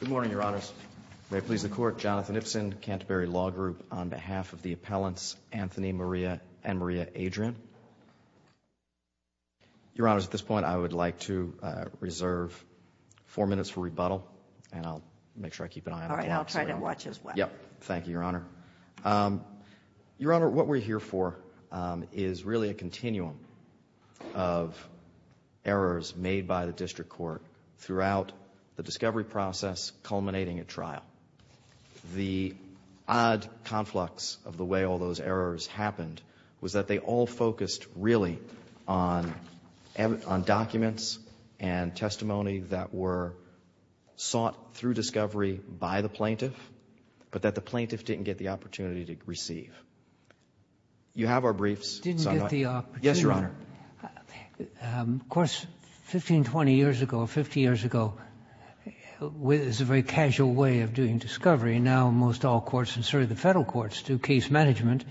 Good morning, Your Honors. May it please the Court, Jonathan Ipsen, Canterbury Law Group, on behalf of the appellants Anthony Maria and Maria Adrian. Your Honors, at this point I would like to reserve four minutes for rebuttal, and I'll make sure I keep an eye on that. All right, I'll try to watch as well. Yes, thank you, Your Honor. Your Honor, what we're here for is really a continuum of errors made by the district court throughout the discovery process culminating at trial. The odd conflux of the way all those errors happened was that they all focused really on documents and testimony that were sought through discovery by the plaintiff, but that the plaintiff didn't get the opportunity to receive. You have our briefs. Didn't get the opportunity? Yes, Your Honor. Of course, 15, 20 years ago, or 50 years ago, it was a very casual way of doing discovery. Now, most all courts, and certainly the Federal courts, do case management,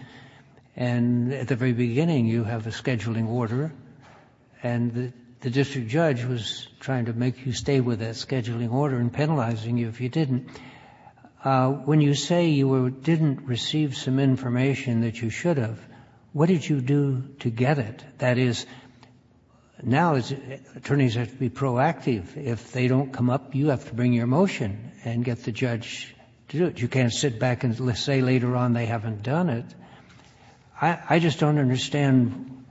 and at the very beginning you have a scheduling order, and the district judge was trying to make you stay with that scheduling order and penalizing you if you didn't. When you say you didn't receive some information that you should have, what did you do to get it? That is, now attorneys have to be proactive. If they don't come up, you have to bring your motion and get the judge to do it. You can't sit back and say later on they haven't done it. I just don't understand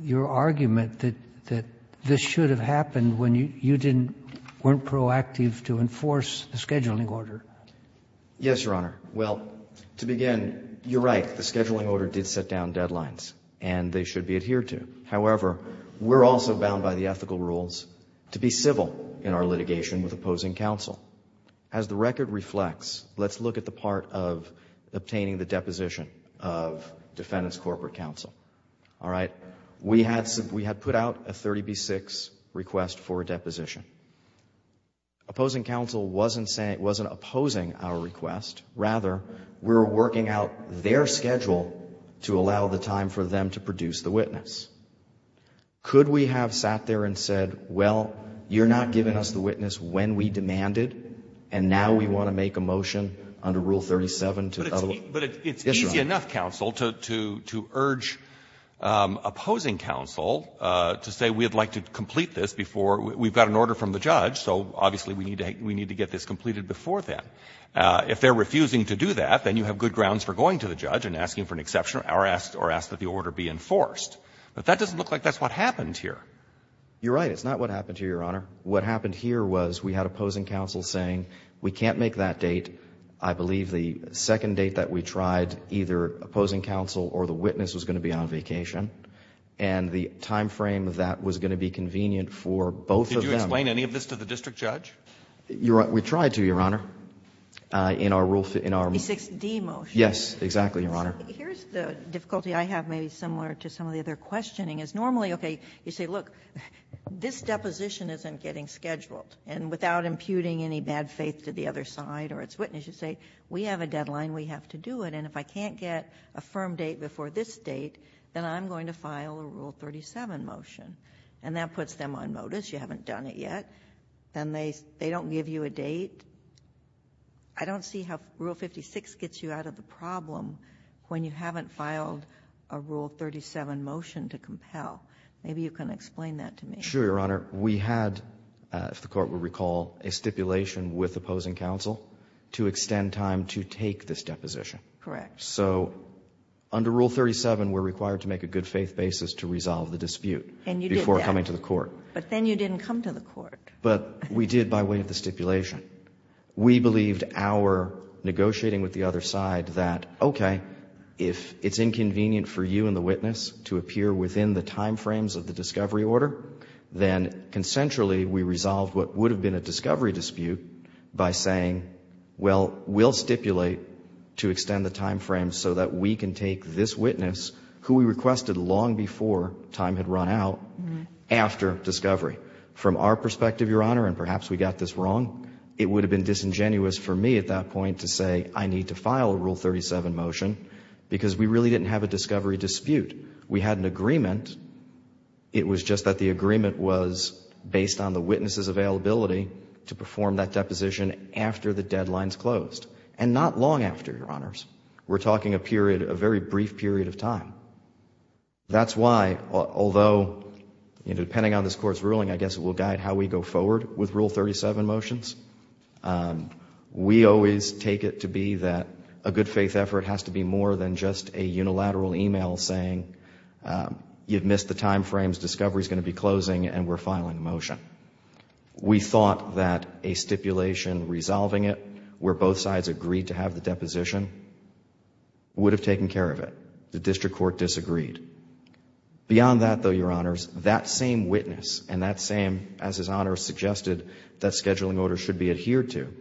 your argument that this should have happened when you didn't weren't proactive to enforce the scheduling order. Yes, Your Honor. Well, to begin, you're right. The scheduling order did set down deadlines, and they should be adhered to. However, we're also bound by the ethical rules to be civil in our litigation with opposing counsel. As the record reflects, let's look at the part of obtaining the deposition of defendant's corporate counsel. All right? We had put out a 30B6 request for a deposition. Opposing counsel wasn't opposing our request. Rather, we were working out their schedule to allow the time for them to produce the witness. Could we have sat there and said, well, you're not giving us the witness when we demanded, and now we want to make a motion under Rule 37 to otherwise? But it's easy enough, counsel, to urge opposing counsel to say we'd like to complete this before we've got an order from the judge, so obviously we need to get this completed before then. If they're refusing to do that, then you have good grounds for going to the judge and asking for an exception or ask that the order be enforced. But that doesn't look like that's what happened here. You're right. It's not what happened here, Your Honor. What happened here was we had opposing counsel saying we can't make that date. I believe the second date that we tried, either opposing counsel or the witness was going to be on vacation, and the time frame that was going to be convenient for both of them. Did you explain any of this to the district judge? We tried to, Your Honor. In our rule fit, in our rule fit. The 6D motion. Yes, exactly, Your Honor. Here's the difficulty I have, maybe similar to some of the other questioning, is normally, okay, you say, look, this deposition isn't getting scheduled. And without imputing any bad faith to the other side or its witness, you say, we have a deadline, we have to do it, and if I can't get a firm date before this date, then I'm going to file a Rule 37 motion. And that puts them on modus, you haven't done it yet. Then they don't give you a date. I don't see how Rule 56 gets you out of the problem when you haven't filed a Rule 37 motion to compel. Maybe you can explain that to me. Sure, Your Honor. We had, if the Court will recall, a stipulation with opposing counsel to extend time to take this deposition. Correct. So under Rule 37, we're required to make a good faith basis to resolve the dispute before coming to the court. And you did that. But then you didn't come to the court. But we did by way of the stipulation. We believed our negotiating with the other side that, okay, if it's inconvenient for you and the witness to appear within the time frames of the discovery order, then consensually we resolved what would have been a discovery dispute by saying, well, we'll stipulate to extend the time frame so that we can take this witness, who we requested long before time had run out, after discovery. From our perspective, Your Honor, and perhaps we got this wrong, it would have been disingenuous for me at that point to say, I need to file a Rule 37 motion, because we really didn't have a discovery dispute. We had an agreement. It was just that the agreement was based on the witness's availability to perform that deposition after the deadline's closed, and not long after, Your Honors. We're talking a period, a very brief period of time. That's why, although, you know, depending on this Court's ruling, I guess it will guide how we go forward with Rule 37 motions. We always take it to be that a good faith effort has to be more than just a unilateral e-mail saying you've missed the time frames, discovery's going to be closing, and we're filing a motion. We thought that a stipulation resolving it where both sides agreed to have the deposition would have taken care of it. The district court disagreed. Beyond that, though, Your Honors, that same witness and that same, as His Honor suggested, that scheduling order should be adhered to,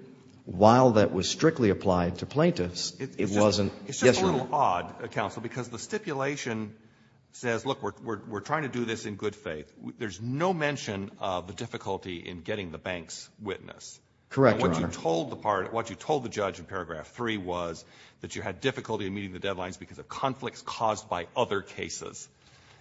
while that was strictly applied to plaintiffs, it wasn't. Yes, Your Honor. It's just a little odd, Counsel, because the stipulation says, look, we're trying to do this in good faith. There's no mention of the difficulty in getting the bank's witness. Correct, Your Honor. What you told the part, what you told the judge in paragraph 3 was that you had difficulty in meeting the deadlines because of conflicts caused by other cases.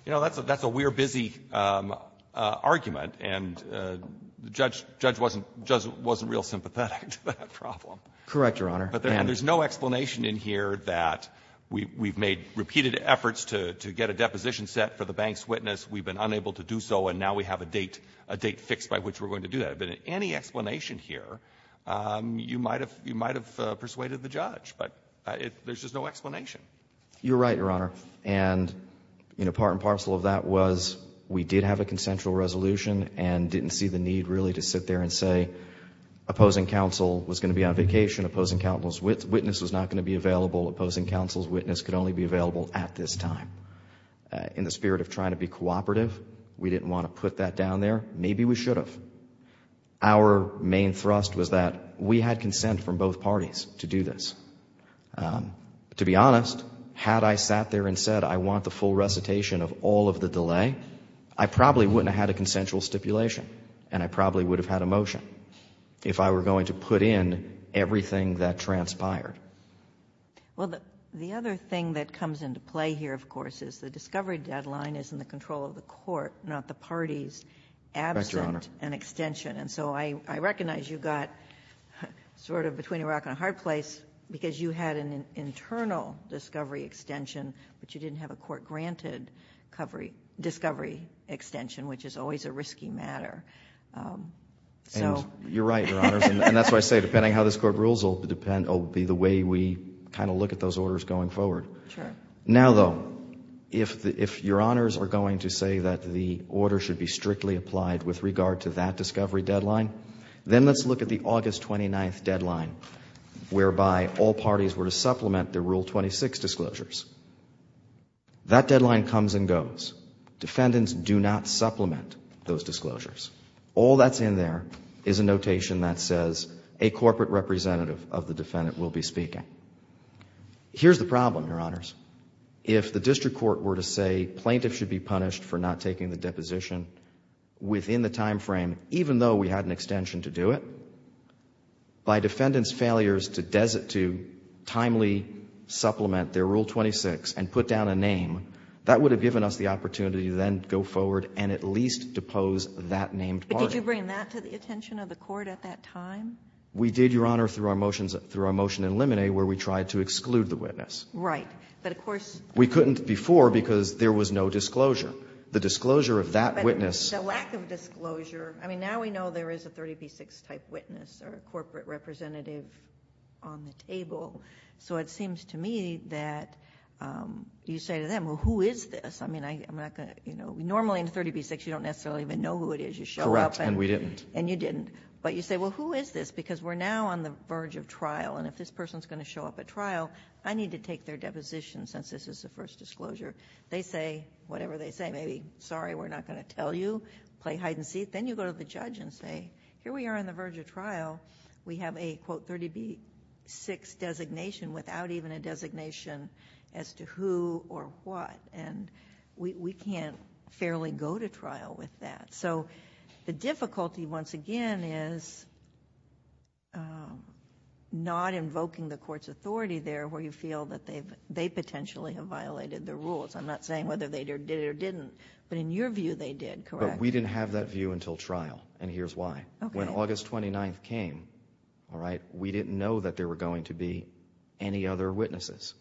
You know, that's a we're busy argument, and the judge wasn't real sympathetic to that problem. Correct, Your Honor. And there's no explanation in here that we've made repeated efforts to get a deposition set for the bank's witness, we've been unable to do so, and now we have a date, a date fixed by which we're going to do that. But in any explanation here, you might have persuaded the judge. But there's just no explanation. You're right, Your Honor. And, you know, part and parcel of that was we did have a consensual resolution and didn't see the need really to sit there and say opposing counsel was going to be on vacation, opposing counsel's witness was not going to be available, opposing counsel's witness could only be available at this time. In the spirit of trying to be cooperative, we didn't want to put that down there. Maybe we should have. But our main thrust was that we had consent from both parties to do this. To be honest, had I sat there and said I want the full recitation of all of the delay, I probably wouldn't have had a consensual stipulation, and I probably would have had a motion if I were going to put in everything that transpired. Well, the other thing that comes into play here, of course, is the discovery deadline is in the control of the court, not the parties. That's right, Your Honor. Absent an extension. And so I recognize you got sort of between a rock and a hard place because you had an internal discovery extension, but you didn't have a court-granted discovery extension, which is always a risky matter. So you're right, Your Honors. And that's why I say depending how this Court rules, it will depend, it will be the way we kind of look at those orders going forward. Sure. Now, though, if Your Honors are going to say that the order should be strictly applied with regard to that discovery deadline, then let's look at the August 29th deadline, whereby all parties were to supplement the Rule 26 disclosures. That deadline comes and goes. Defendants do not supplement those disclosures. All that's in there is a notation that says a corporate representative of the defendant will be speaking. Here's the problem, Your Honors. If the district court were to say plaintiffs should be punished for not taking the deposition within the timeframe, even though we had an extension to do it, by defendants' failures to desit to timely supplement their Rule 26 and put down a name, that would have given us the opportunity to then go forward and at least depose that named party. But did you bring that to the attention of the court at that time? We did, Your Honor, through our motions in limine, where we tried to exclude the witness. Right. But of course we couldn't before because there was no disclosure. The disclosure of that witness. But the lack of disclosure. I mean, now we know there is a 30b-6 type witness or a corporate representative on the table. So it seems to me that you say to them, well, who is this? I mean, I'm not going to, you know, normally in 30b-6 you don't necessarily even know who it is. You show up. And we didn't. And you didn't. But you say, well, who is this? Because we're now on the verge of trial. And if this person is going to show up at trial, I need to take their deposition since this is the first disclosure. They say whatever they say. Maybe, sorry, we're not going to tell you. Play hide-and-seek. Then you go to the judge and say, here we are on the verge of trial. We have a, quote, 30b-6 designation without even a designation as to who or what. And we can't fairly go to trial with that. So the difficulty, once again, is not invoking the court's authority there where you feel that they potentially have violated the rules. I'm not saying whether they did it or didn't. But in your view, they did, correct? But we didn't have that view until trial, and here's why. When August 29th came, all right, we didn't know that there were going to be any other witnesses.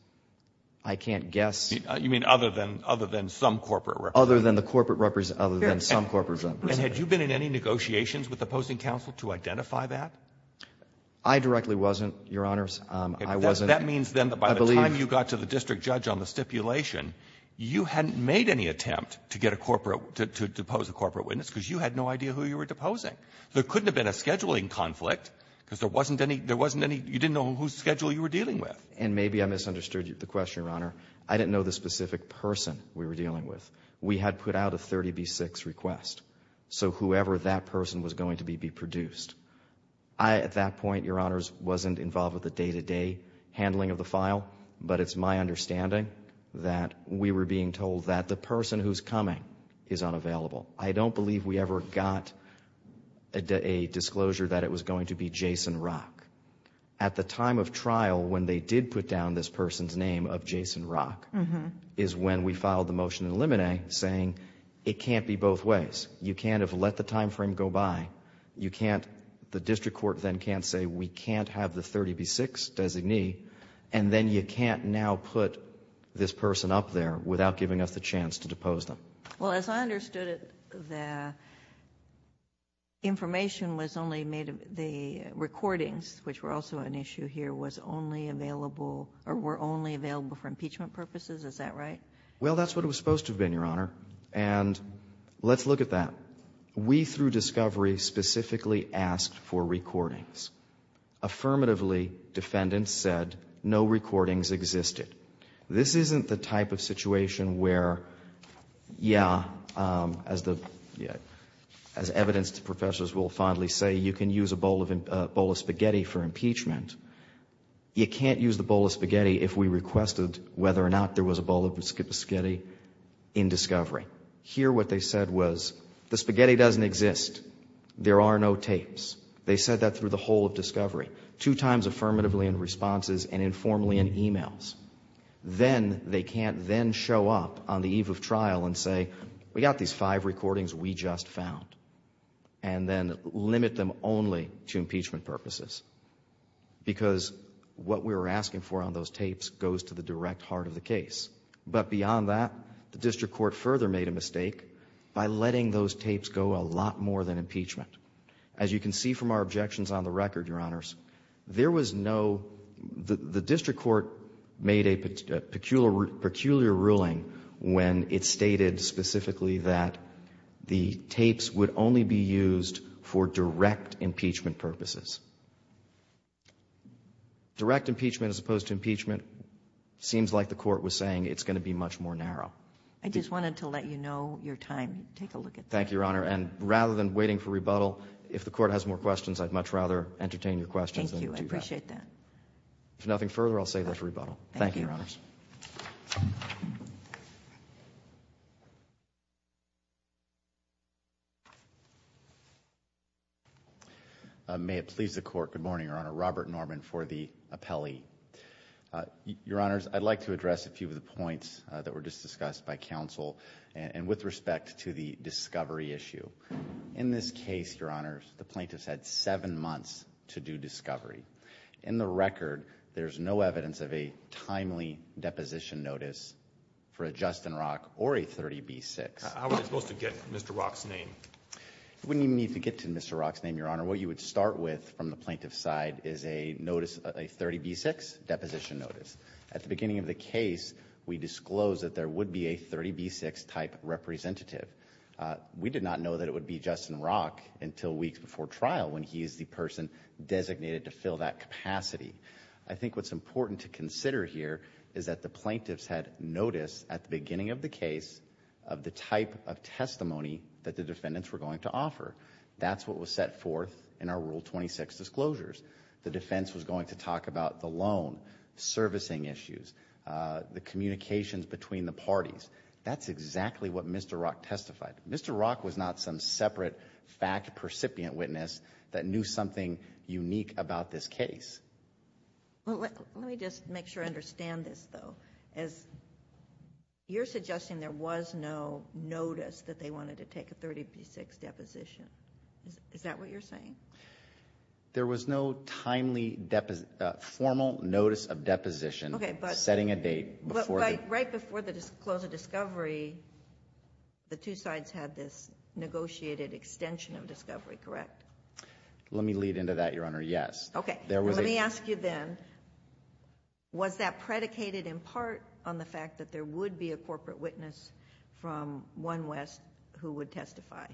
I can't guess. You mean other than some corporate representative? Other than the corporate representative. Other than some corporate representative. And had you been in any negotiations with the opposing counsel to identify that? I directly wasn't, Your Honors. I wasn't. That means, then, that by the time you got to the district judge on the stipulation, you hadn't made any attempt to get a corporate to depose a corporate witness because you had no idea who you were deposing. There couldn't have been a scheduling conflict because there wasn't any you didn't know whose schedule you were dealing with. And maybe I misunderstood the question, Your Honor. I didn't know the specific person we were dealing with. We had put out a 30B6 request. So whoever that person was going to be, be produced. I, at that point, Your Honors, wasn't involved with the day-to-day handling of the file, but it's my understanding that we were being told that the person who's coming is unavailable. I don't believe we ever got a disclosure that it was going to be Jason Rock. At the time of trial, when they did put down this person's name of Jason Rock, is when we filed the motion to eliminate, saying it can't be both ways. You can't have let the time frame go by. You can't the district court then can't say we can't have the 30B6 designee, and then you can't now put this person up there without giving us the chance to depose them. Well, as I understood it, the information was only made of the recordings, which were also an issue here, was only available or were only available for impeachment purposes. Is that right? Well, that's what it was supposed to have been, Your Honor. And let's look at that. We, through discovery, specifically asked for recordings. Affirmatively, defendants said no recordings existed. This isn't the type of situation where, yeah, as evidence to professors will fondly say, you can use a bowl of spaghetti for impeachment. You can't use the bowl of spaghetti if we requested whether or not there was a bowl of spaghetti in discovery. Here what they said was, the spaghetti doesn't exist. There are no tapes. They said that through the whole of discovery, two times affirmatively in responses and informally in emails. Then they can't then show up on the eve of trial and say, we got these five recordings we just found, and then limit them only to impeachment purposes. Because what we were asking for on those tapes goes to the direct heart of the case. But beyond that, the district court further made a mistake by letting those tapes go a lot more than impeachment. As you can see from our objections on the record, Your Honors, there was no, the district court made a peculiar ruling when it stated specifically that the tapes would only be used for direct impeachment purposes. Direct impeachment as opposed to impeachment seems like the court was saying it's going to be much more narrow. I just wanted to let you know your time. Take a look at that. Thank you, Your Honor. And rather than waiting for rebuttal, if the court has more questions, I'd much rather entertain your questions. Thank you. I appreciate that. Thank you, Your Honors. Thank you. May it please the court. Good morning, Your Honor. Robert Norman for the appellee. Your Honors, I'd like to address a few of the points that were just discussed by counsel and with respect to the discovery issue. In this case, Your Honors, the plaintiffs had seven months to do discovery. In the record, there's no evidence of a timely deposition notice for a Justin Rock or a 30B6. How are they supposed to get Mr. Rock's name? We need to get to Mr. Rock's name, Your Honor. What you would start with from the plaintiff's side is a notice, a 30B6 deposition notice. At the beginning of the case, we disclosed that there would be a 30B6 type representative. We did not know that it would be Justin Rock until weeks before trial when he is the person designated to fill that capacity. I think what's important to consider here is that the plaintiffs had notice at the beginning of the case of the type of testimony that the defendants were going to offer. That's what was set forth in our Rule 26 disclosures. The defense was going to talk about the loan, servicing issues, the communications between the parties. That's exactly what Mr. Rock testified. Mr. Rock was not some separate fact-percipient witness that knew something unique about this case. Let me just make sure I understand this, though. You're suggesting there was no notice that they wanted to take a 30B6 deposition. Is that what you're saying? There was no timely formal notice of deposition setting a date. Right before the close of discovery, the two sides had this negotiated extension of discovery, correct? Let me lead into that, Your Honor, yes. Okay. Let me ask you then, was that predicated in part on the fact that there would be a corporate witness from one West who would testify?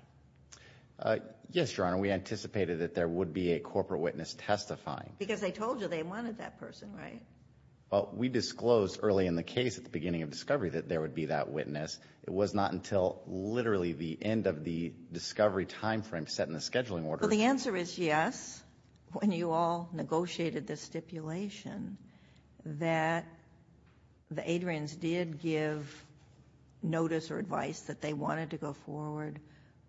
Yes, Your Honor. We anticipated that there would be a corporate witness testifying. Because they told you they wanted that person, right? Well, we disclosed early in the case at the beginning of discovery that there would be that witness. It was not until literally the end of the discovery timeframe set in the scheduling order. So the answer is yes, when you all negotiated this stipulation, that the Adrians did give notice or advice that they wanted to go forward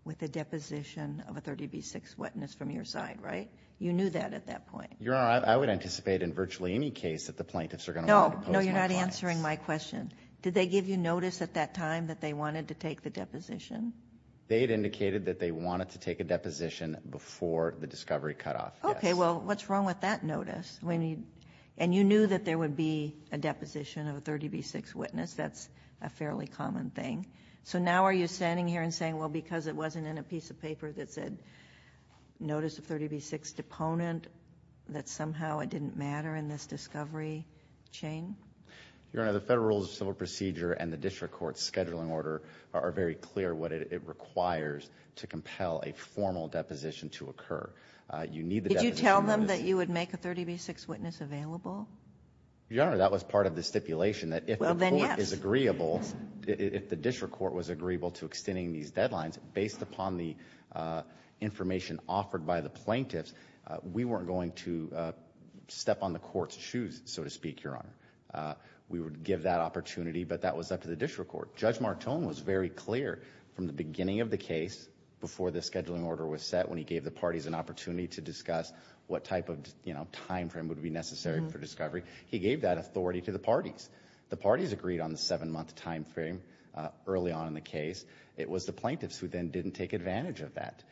with a deposition of a 30B6 witness from your side, right? You knew that at that point. Your Honor, I would anticipate in virtually any case that the plaintiffs are going to want to pose more clients. No, you're not answering my question. Did they give you notice at that time that they wanted to take the deposition? They had indicated that they wanted to take a deposition before the discovery cutoff, yes. Okay. Well, what's wrong with that notice? And you knew that there would be a deposition of a 30B6 witness. That's a fairly common thing. So now are you standing here and saying, well, because it wasn't in a piece of paper that said notice of 30B6 deponent, that somehow it didn't matter in this discovery chain? Your Honor, the Federal Rules of Civil Procedure and the District Court Scheduling Order are very clear what it requires to compel a formal deposition to occur. You need the deposition notice. Did you tell them that you would make a 30B6 witness available? Your Honor, that was part of the stipulation that if the court is agreeable, if the District Court was agreeable to extending these deadlines, based upon the information offered by the plaintiffs, we weren't going to step on the court's shoes, so to speak, Your Honor. We would give that opportunity, but that was up to the District Court. Judge Martone was very clear from the beginning of the case, before the scheduling order was set, when he gave the parties an opportunity to discuss what type of timeframe would be necessary for discovery. He gave that authority to the parties. The parties agreed on the seven-month timeframe early on in the case. It was the plaintiffs who then didn't take advantage of that.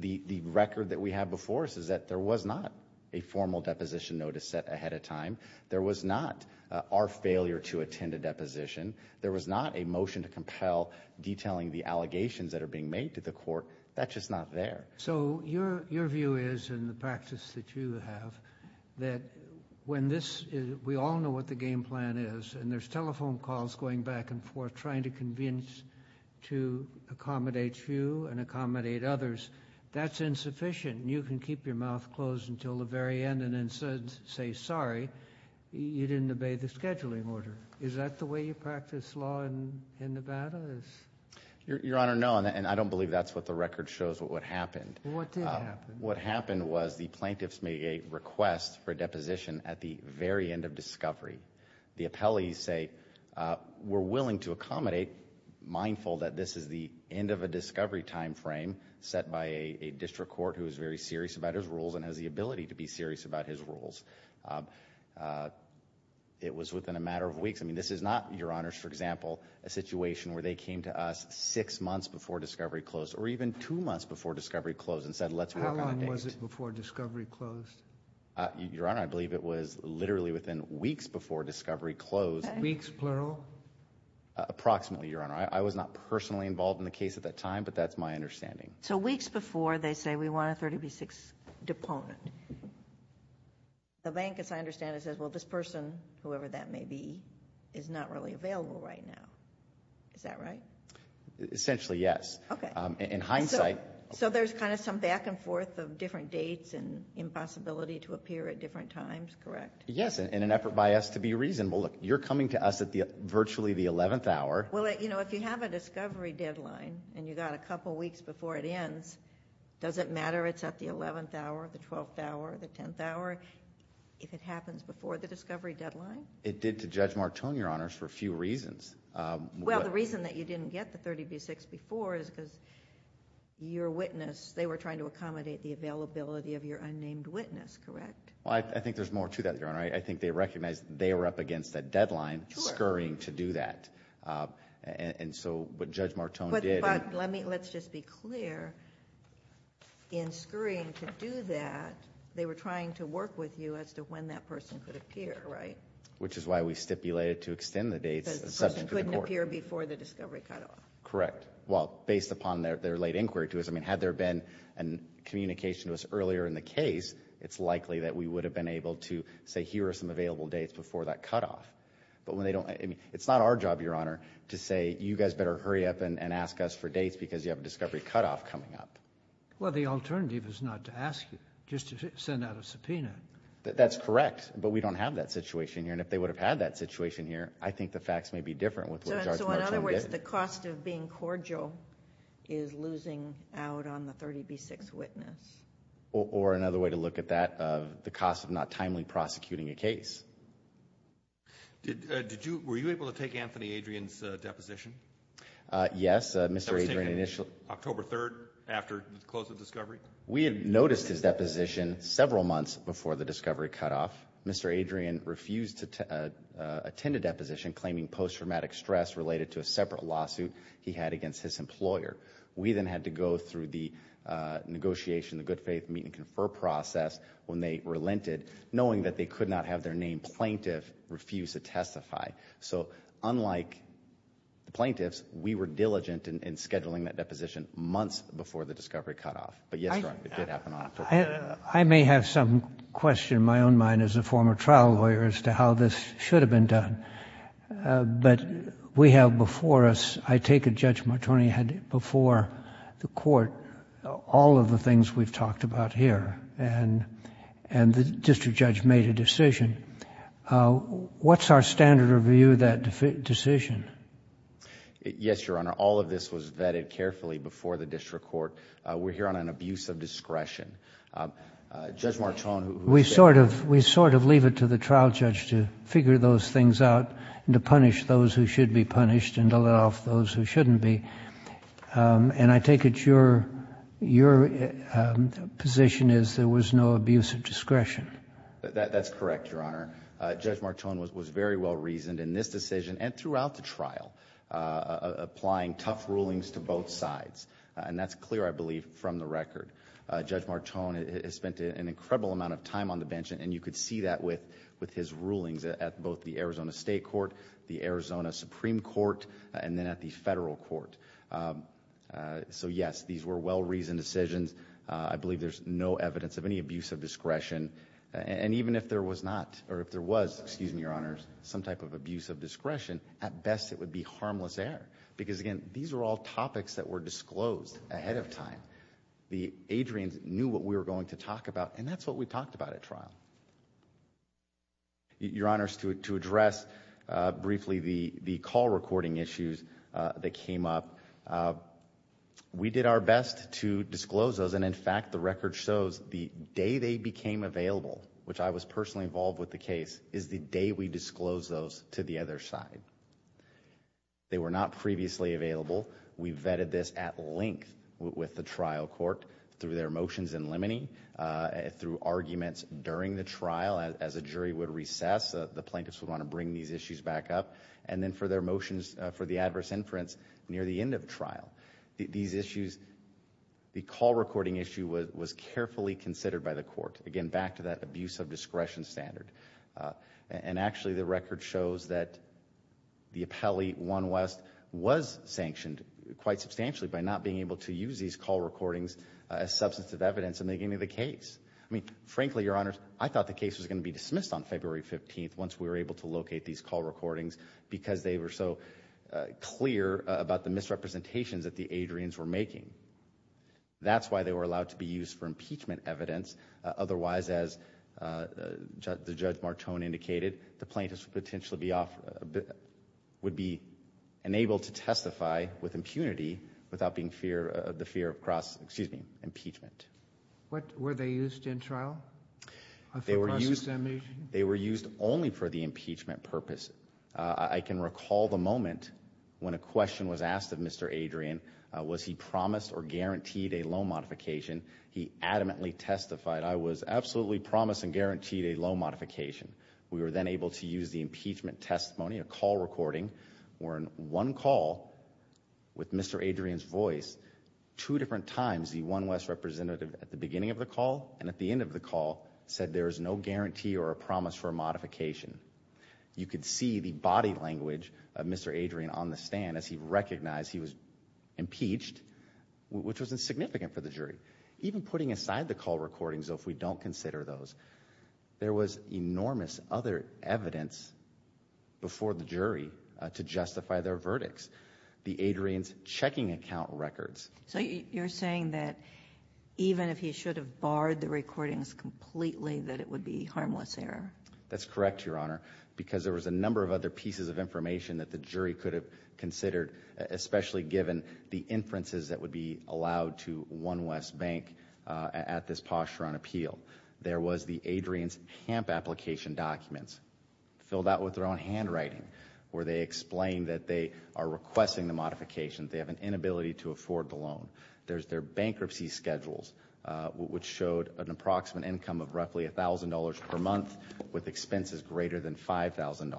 The record that we have before us is that there was not a formal deposition notice set ahead of time. There was not our failure to attend a deposition. There was not a motion to compel detailing the allegations that are being made to the court. That's just not there. So your view is, and the practice that you have, that when this—we all know what the game plan is, and there's telephone calls going back and forth trying to convince to accommodate you and accommodate others. That's insufficient, and you can keep your mouth closed until the very end and then say, sorry, you didn't obey the scheduling order. Is that the way you practice law in Nevada? Your Honor, no, and I don't believe that's what the record shows what happened. What did happen? What happened was the plaintiffs made a request for a deposition at the very end of discovery. The appellees say, we're willing to accommodate, mindful that this is the end of a discovery timeframe set by a district court who is very serious about his rules and has the ability to be serious about his rules. It was within a matter of weeks. I mean, this is not, Your Honors, for example, a situation where they came to us six months before discovery closed or even two months before discovery closed and said, let's work on a date. How long was it before discovery closed? Your Honor, I believe it was literally within weeks before discovery closed. Weeks, plural? Approximately, Your Honor. I was not personally involved in the case at that time, but that's my understanding. So weeks before, they say, we want a 30B6 deponent. The bank, as I understand it, says, well, this person, whoever that may be, is not really available right now. Is that right? Essentially, yes. Okay. In hindsight. So there's kind of some back and forth of different dates and impossibility to appear at different times, correct? Yes, in an effort by us to be reasonable. Look, you're coming to us at virtually the 11th hour. Well, you know, if you have a discovery deadline and you got a couple weeks before it ends, does it matter it's at the 11th hour, the 12th hour, the 10th hour, if it happens before the discovery deadline? It did to Judge Martone, Your Honor, for a few reasons. Well, the reason that you didn't get the 30B6 before is because your witness, they were trying to accommodate the availability of your unnamed witness, correct? Well, I think there's more to that, Your Honor. I think they recognized they were up against a deadline, scurrying to do that. And so what Judge Martone did. But let's just be clear, in scurrying to do that, they were trying to work with you as to when that person could appear, right? Which is why we stipulated to extend the dates. Because the person couldn't appear before the discovery cutoff. Correct. Well, based upon their late inquiry to us, I mean, had there been a communication to us earlier in the case, it's likely that we would have been able to say, here are some available dates before that cutoff. But when they don't, I mean, it's not our job, Your Honor, to say you guys better hurry up and ask us for dates because you have a discovery cutoff coming up. Well, the alternative is not to ask you, just to send out a subpoena. That's correct. But we don't have that situation here. And if they would have had that situation here, I think the facts may be different with what Judge Martone did. So in other words, the cost of being cordial is losing out on the 30B6 witness. Or another way to look at that, the cost of not timely prosecuting a case. Were you able to take Anthony Adrian's deposition? Yes. October 3rd after the close of the discovery? We had noticed his deposition several months before the discovery cutoff. Mr. Adrian refused to attend a deposition claiming post-traumatic stress related to a separate lawsuit he had against his employer. We then had to go through the negotiation, the good faith meet and confer process when they relented, knowing that they could not have their name plaintiff refuse to testify. So unlike the plaintiffs, we were diligent in scheduling that deposition months before the discovery cutoff. But yes, Your Honor, it did happen on October 3rd. I may have some question in my own mind as a former trial lawyer as to how this should have been done. But we have before us, I take it Judge Martone had before the court all of the things we've talked about here and the district judge made a decision. What's our standard of view of that decision? Yes, Your Honor. All of this was vetted carefully before the district court. We're here on an abuse of discretion. Judge Martone who... We sort of leave it to the trial judge to figure those things out and to punish those who should be punished and to let off those who shouldn't be. And I take it your position is there was no abuse of discretion. That's correct, Your Honor. Judge Martone was very well reasoned in this decision and throughout the trial applying tough rulings to both sides. And that's clear, I believe, from the record. Judge Martone has spent an incredible amount of time on the bench and you could see that with his rulings at both the Arizona State Court, the Arizona Supreme Court, and then at the federal court. So, yes, these were well-reasoned decisions. I believe there's no evidence of any abuse of discretion. And even if there was not, or if there was, excuse me, Your Honors, some type of abuse of discretion, at best it would be harmless error because, again, these are all topics that were disclosed ahead of time. The Adrians knew what we were going to talk about, and that's what we talked about at trial. Your Honors, to address briefly the call recording issues that came up, we did our best to disclose those. And, in fact, the record shows the day they became available, which I was personally involved with the case, is the day we disclosed those to the other side. They were not previously available. We vetted this at length with the trial court through their motions in limine, through arguments during the trial as a jury would recess, the plaintiffs would want to bring these issues back up, and then for their motions for the adverse inference near the end of trial. These issues, the call recording issue was carefully considered by the court, again, back to that abuse of discretion standard. And, actually, the record shows that the appellee, One West, was sanctioned quite substantially by not being able to use these call recordings as substantive evidence in making the case. I mean, frankly, Your Honors, I thought the case was going to be dismissed on February 15th once we were able to locate these call recordings because they were so clear about the misrepresentations that the Adrians were making. That's why they were allowed to be used for impeachment evidence. Otherwise, as Judge Martone indicated, the plaintiffs would be enabled to testify with impunity without the fear of cross, excuse me, impeachment. Were they used in trial for cross-examination? They were used only for the impeachment purpose. I can recall the moment when a question was asked of Mr. Adrian, was he promised or guaranteed a loan modification, he adamantly testified, I was absolutely promised and guaranteed a loan modification. We were then able to use the impeachment testimony, a call recording, or in one call with Mr. Adrian's voice, two different times the One West representative at the beginning of the call and at the end of the call said there is no guarantee or a promise for a modification. You could see the body language of Mr. Adrian on the stand as he recognized he was impeached, which was insignificant for the jury. Even putting aside the call recordings, though, if we don't consider those, there was enormous other evidence before the jury to justify their verdicts. The Adrian's checking account records. So you're saying that even if he should have barred the recordings completely that it would be harmless error? That's correct, Your Honor, because there was a number of other pieces of information that the jury could have considered, especially given the inferences that would be allowed to One West Bank at this posturing appeal. There was the Adrian's HAMP application documents, filled out with their own handwriting, where they explain that they are requesting the modification, they have an inability to afford the loan. There's their bankruptcy schedules, which showed an approximate income of roughly $1,000 per month with expenses greater than $5,000.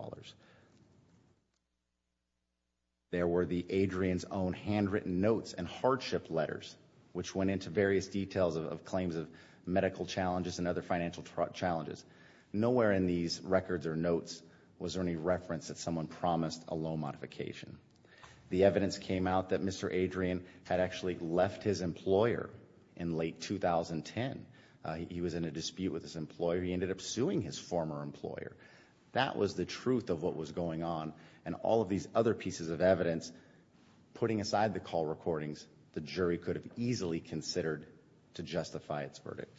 There were the Adrian's own handwritten notes and hardship letters, which went into various details of claims of medical challenges and other financial challenges. Nowhere in these records or notes was there any reference that someone promised a loan modification. The evidence came out that Mr. Adrian had actually left his employer in late 2010. He was in a dispute with his employer. He ended up suing his former employer. That was the truth of what was going on, and all of these other pieces of evidence, putting aside the call recordings, the jury could have easily considered to justify its verdict.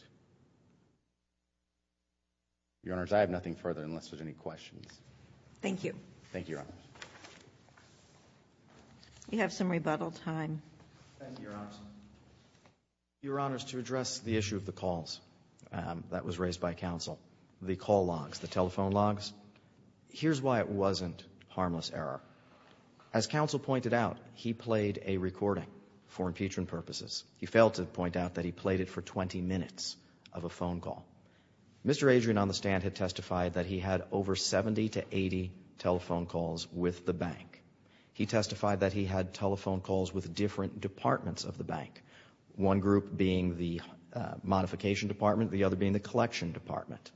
Your Honors, I have nothing further unless there's any questions. Thank you. Thank you, Your Honors. You have some rebuttal time. Thank you, Your Honors. Your Honors, to address the issue of the calls that was raised by counsel, the call logs, the telephone logs, here's why it wasn't harmless error. As counsel pointed out, he played a recording for impeachment purposes. He failed to point out that he played it for 20 minutes of a phone call. Mr. Adrian on the stand had testified that he had over 70 to 80 telephone calls with the bank. He testified that he had telephone calls with different departments of the bank, one group being the modification department, the other being the collection department.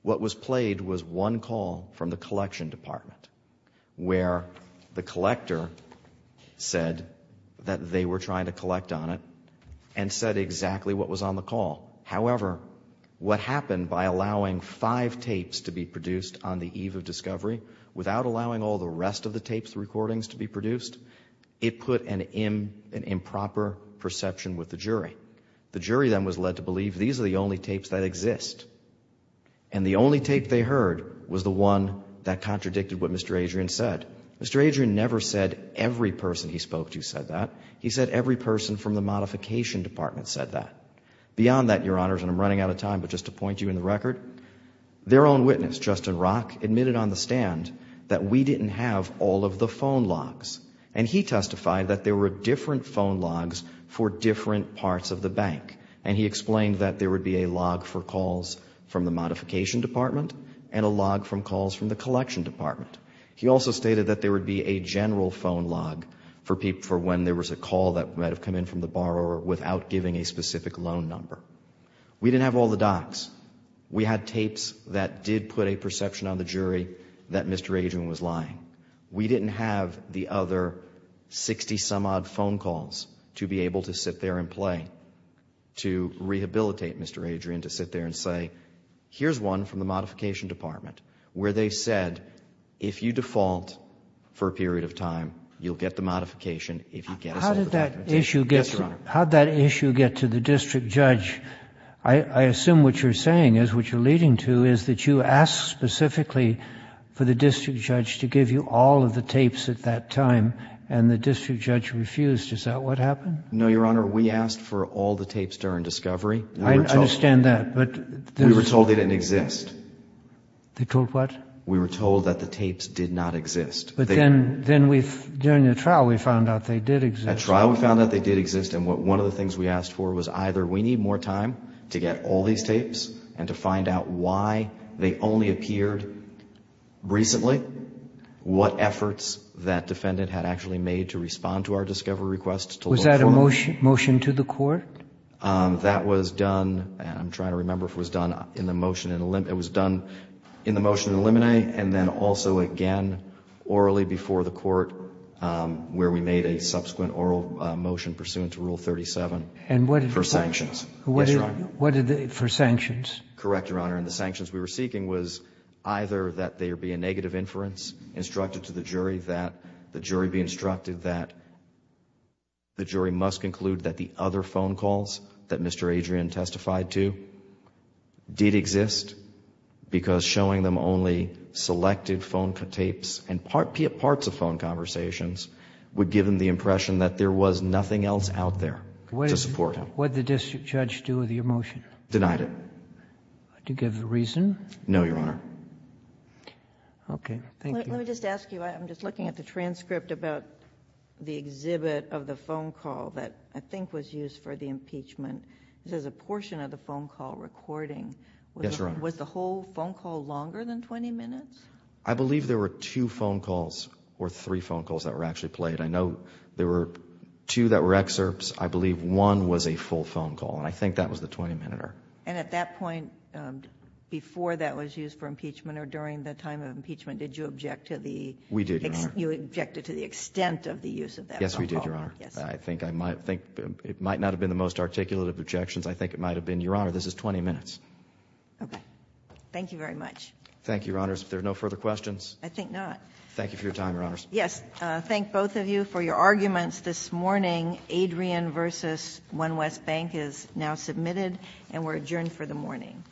What was played was one call from the collection department where the collector said that they were trying to collect on it and said exactly what was on the call. However, what happened by allowing five tapes to be produced on the eve of discovery without allowing all the rest of the tapes recordings to be produced, it put an improper perception with the jury. The jury then was led to believe these are the only tapes that exist, and the only tape they heard was the one that contradicted what Mr. Adrian said. Mr. Adrian never said every person he spoke to said that. He said every person from the modification department said that. Beyond that, Your Honors, and I'm running out of time, but just to point you in the record, their own witness, Justin Rock, admitted on the stand that we didn't have all of the phone logs, and he testified that there were different phone logs for different parts of the bank, and he explained that there would be a log for calls from the modification department and a log from calls from the collection department. He also stated that there would be a general phone log for when there was a call that might have come in from the borrower without giving a specific loan number. We didn't have all the docs. We had tapes that did put a perception on the jury that Mr. Adrian was lying. We didn't have the other 60-some-odd phone calls to be able to sit there and play, to rehabilitate Mr. Adrian, to sit there and say, here's one from the modification department where they said, if you default for a period of time, you'll get the modification if you get us over there. Yes, Your Honor. How did that issue get to the district judge? I assume what you're saying is, what you're leading to, is that you asked specifically for the district judge to give you all of the tapes at that time, and the district judge refused. Is that what happened? No, Your Honor. We asked for all the tapes during discovery. I understand that. We were told they didn't exist. They told what? We were told that the tapes did not exist. But then during the trial we found out they did exist. At trial we found out they did exist, and one of the things we asked for was either we need more time to get all these tapes and to find out why they only appeared recently, what efforts that defendant had actually made to respond to our discovery request to look for them. Was that a motion to the court? That was done, I'm trying to remember if it was done in the motion in limine. It was done in the motion in limine, and then also again orally before the court, where we made a subsequent oral motion pursuant to Rule 37 for sanctions. And what did they do? Yes, Your Honor. What did they do for sanctions? Correct, Your Honor. And the sanctions we were seeking was either that there be a negative inference instructed to the jury, that the jury be instructed that the jury must conclude that the other phone calls that Mr. Adrian testified to did exist because showing them only selected phone tapes and parts of phone conversations would give them the impression that there was nothing else out there to support him. What did the district judge do with your motion? Denied it. Did he give a reason? No, Your Honor. Okay. Thank you. Let me just ask you, I'm just looking at the transcript about the exhibit of the phone call that I think was used for the impeachment. It says a portion of the phone call recording. Yes, Your Honor. Was the whole phone call longer than 20 minutes? I believe there were two phone calls or three phone calls that were actually played. I know there were two that were excerpts. I believe one was a full phone call, and I think that was the 20-minuter. And at that point, before that was used for impeachment or during the time of impeachment, did you object to the extent of the use of that phone call? We did, Your Honor. Yes, we did, Your Honor. I think it might not have been the most articulative objections. I think it might have been, Your Honor, this is 20 minutes. Okay. Thank you very much. Thank you, Your Honors. If there are no further questions. I think not. Thank you for your time, Your Honors. Yes. Thank both of you for your arguments this morning. Adrian v. One West Bank is now submitted and we're adjourned for the morning.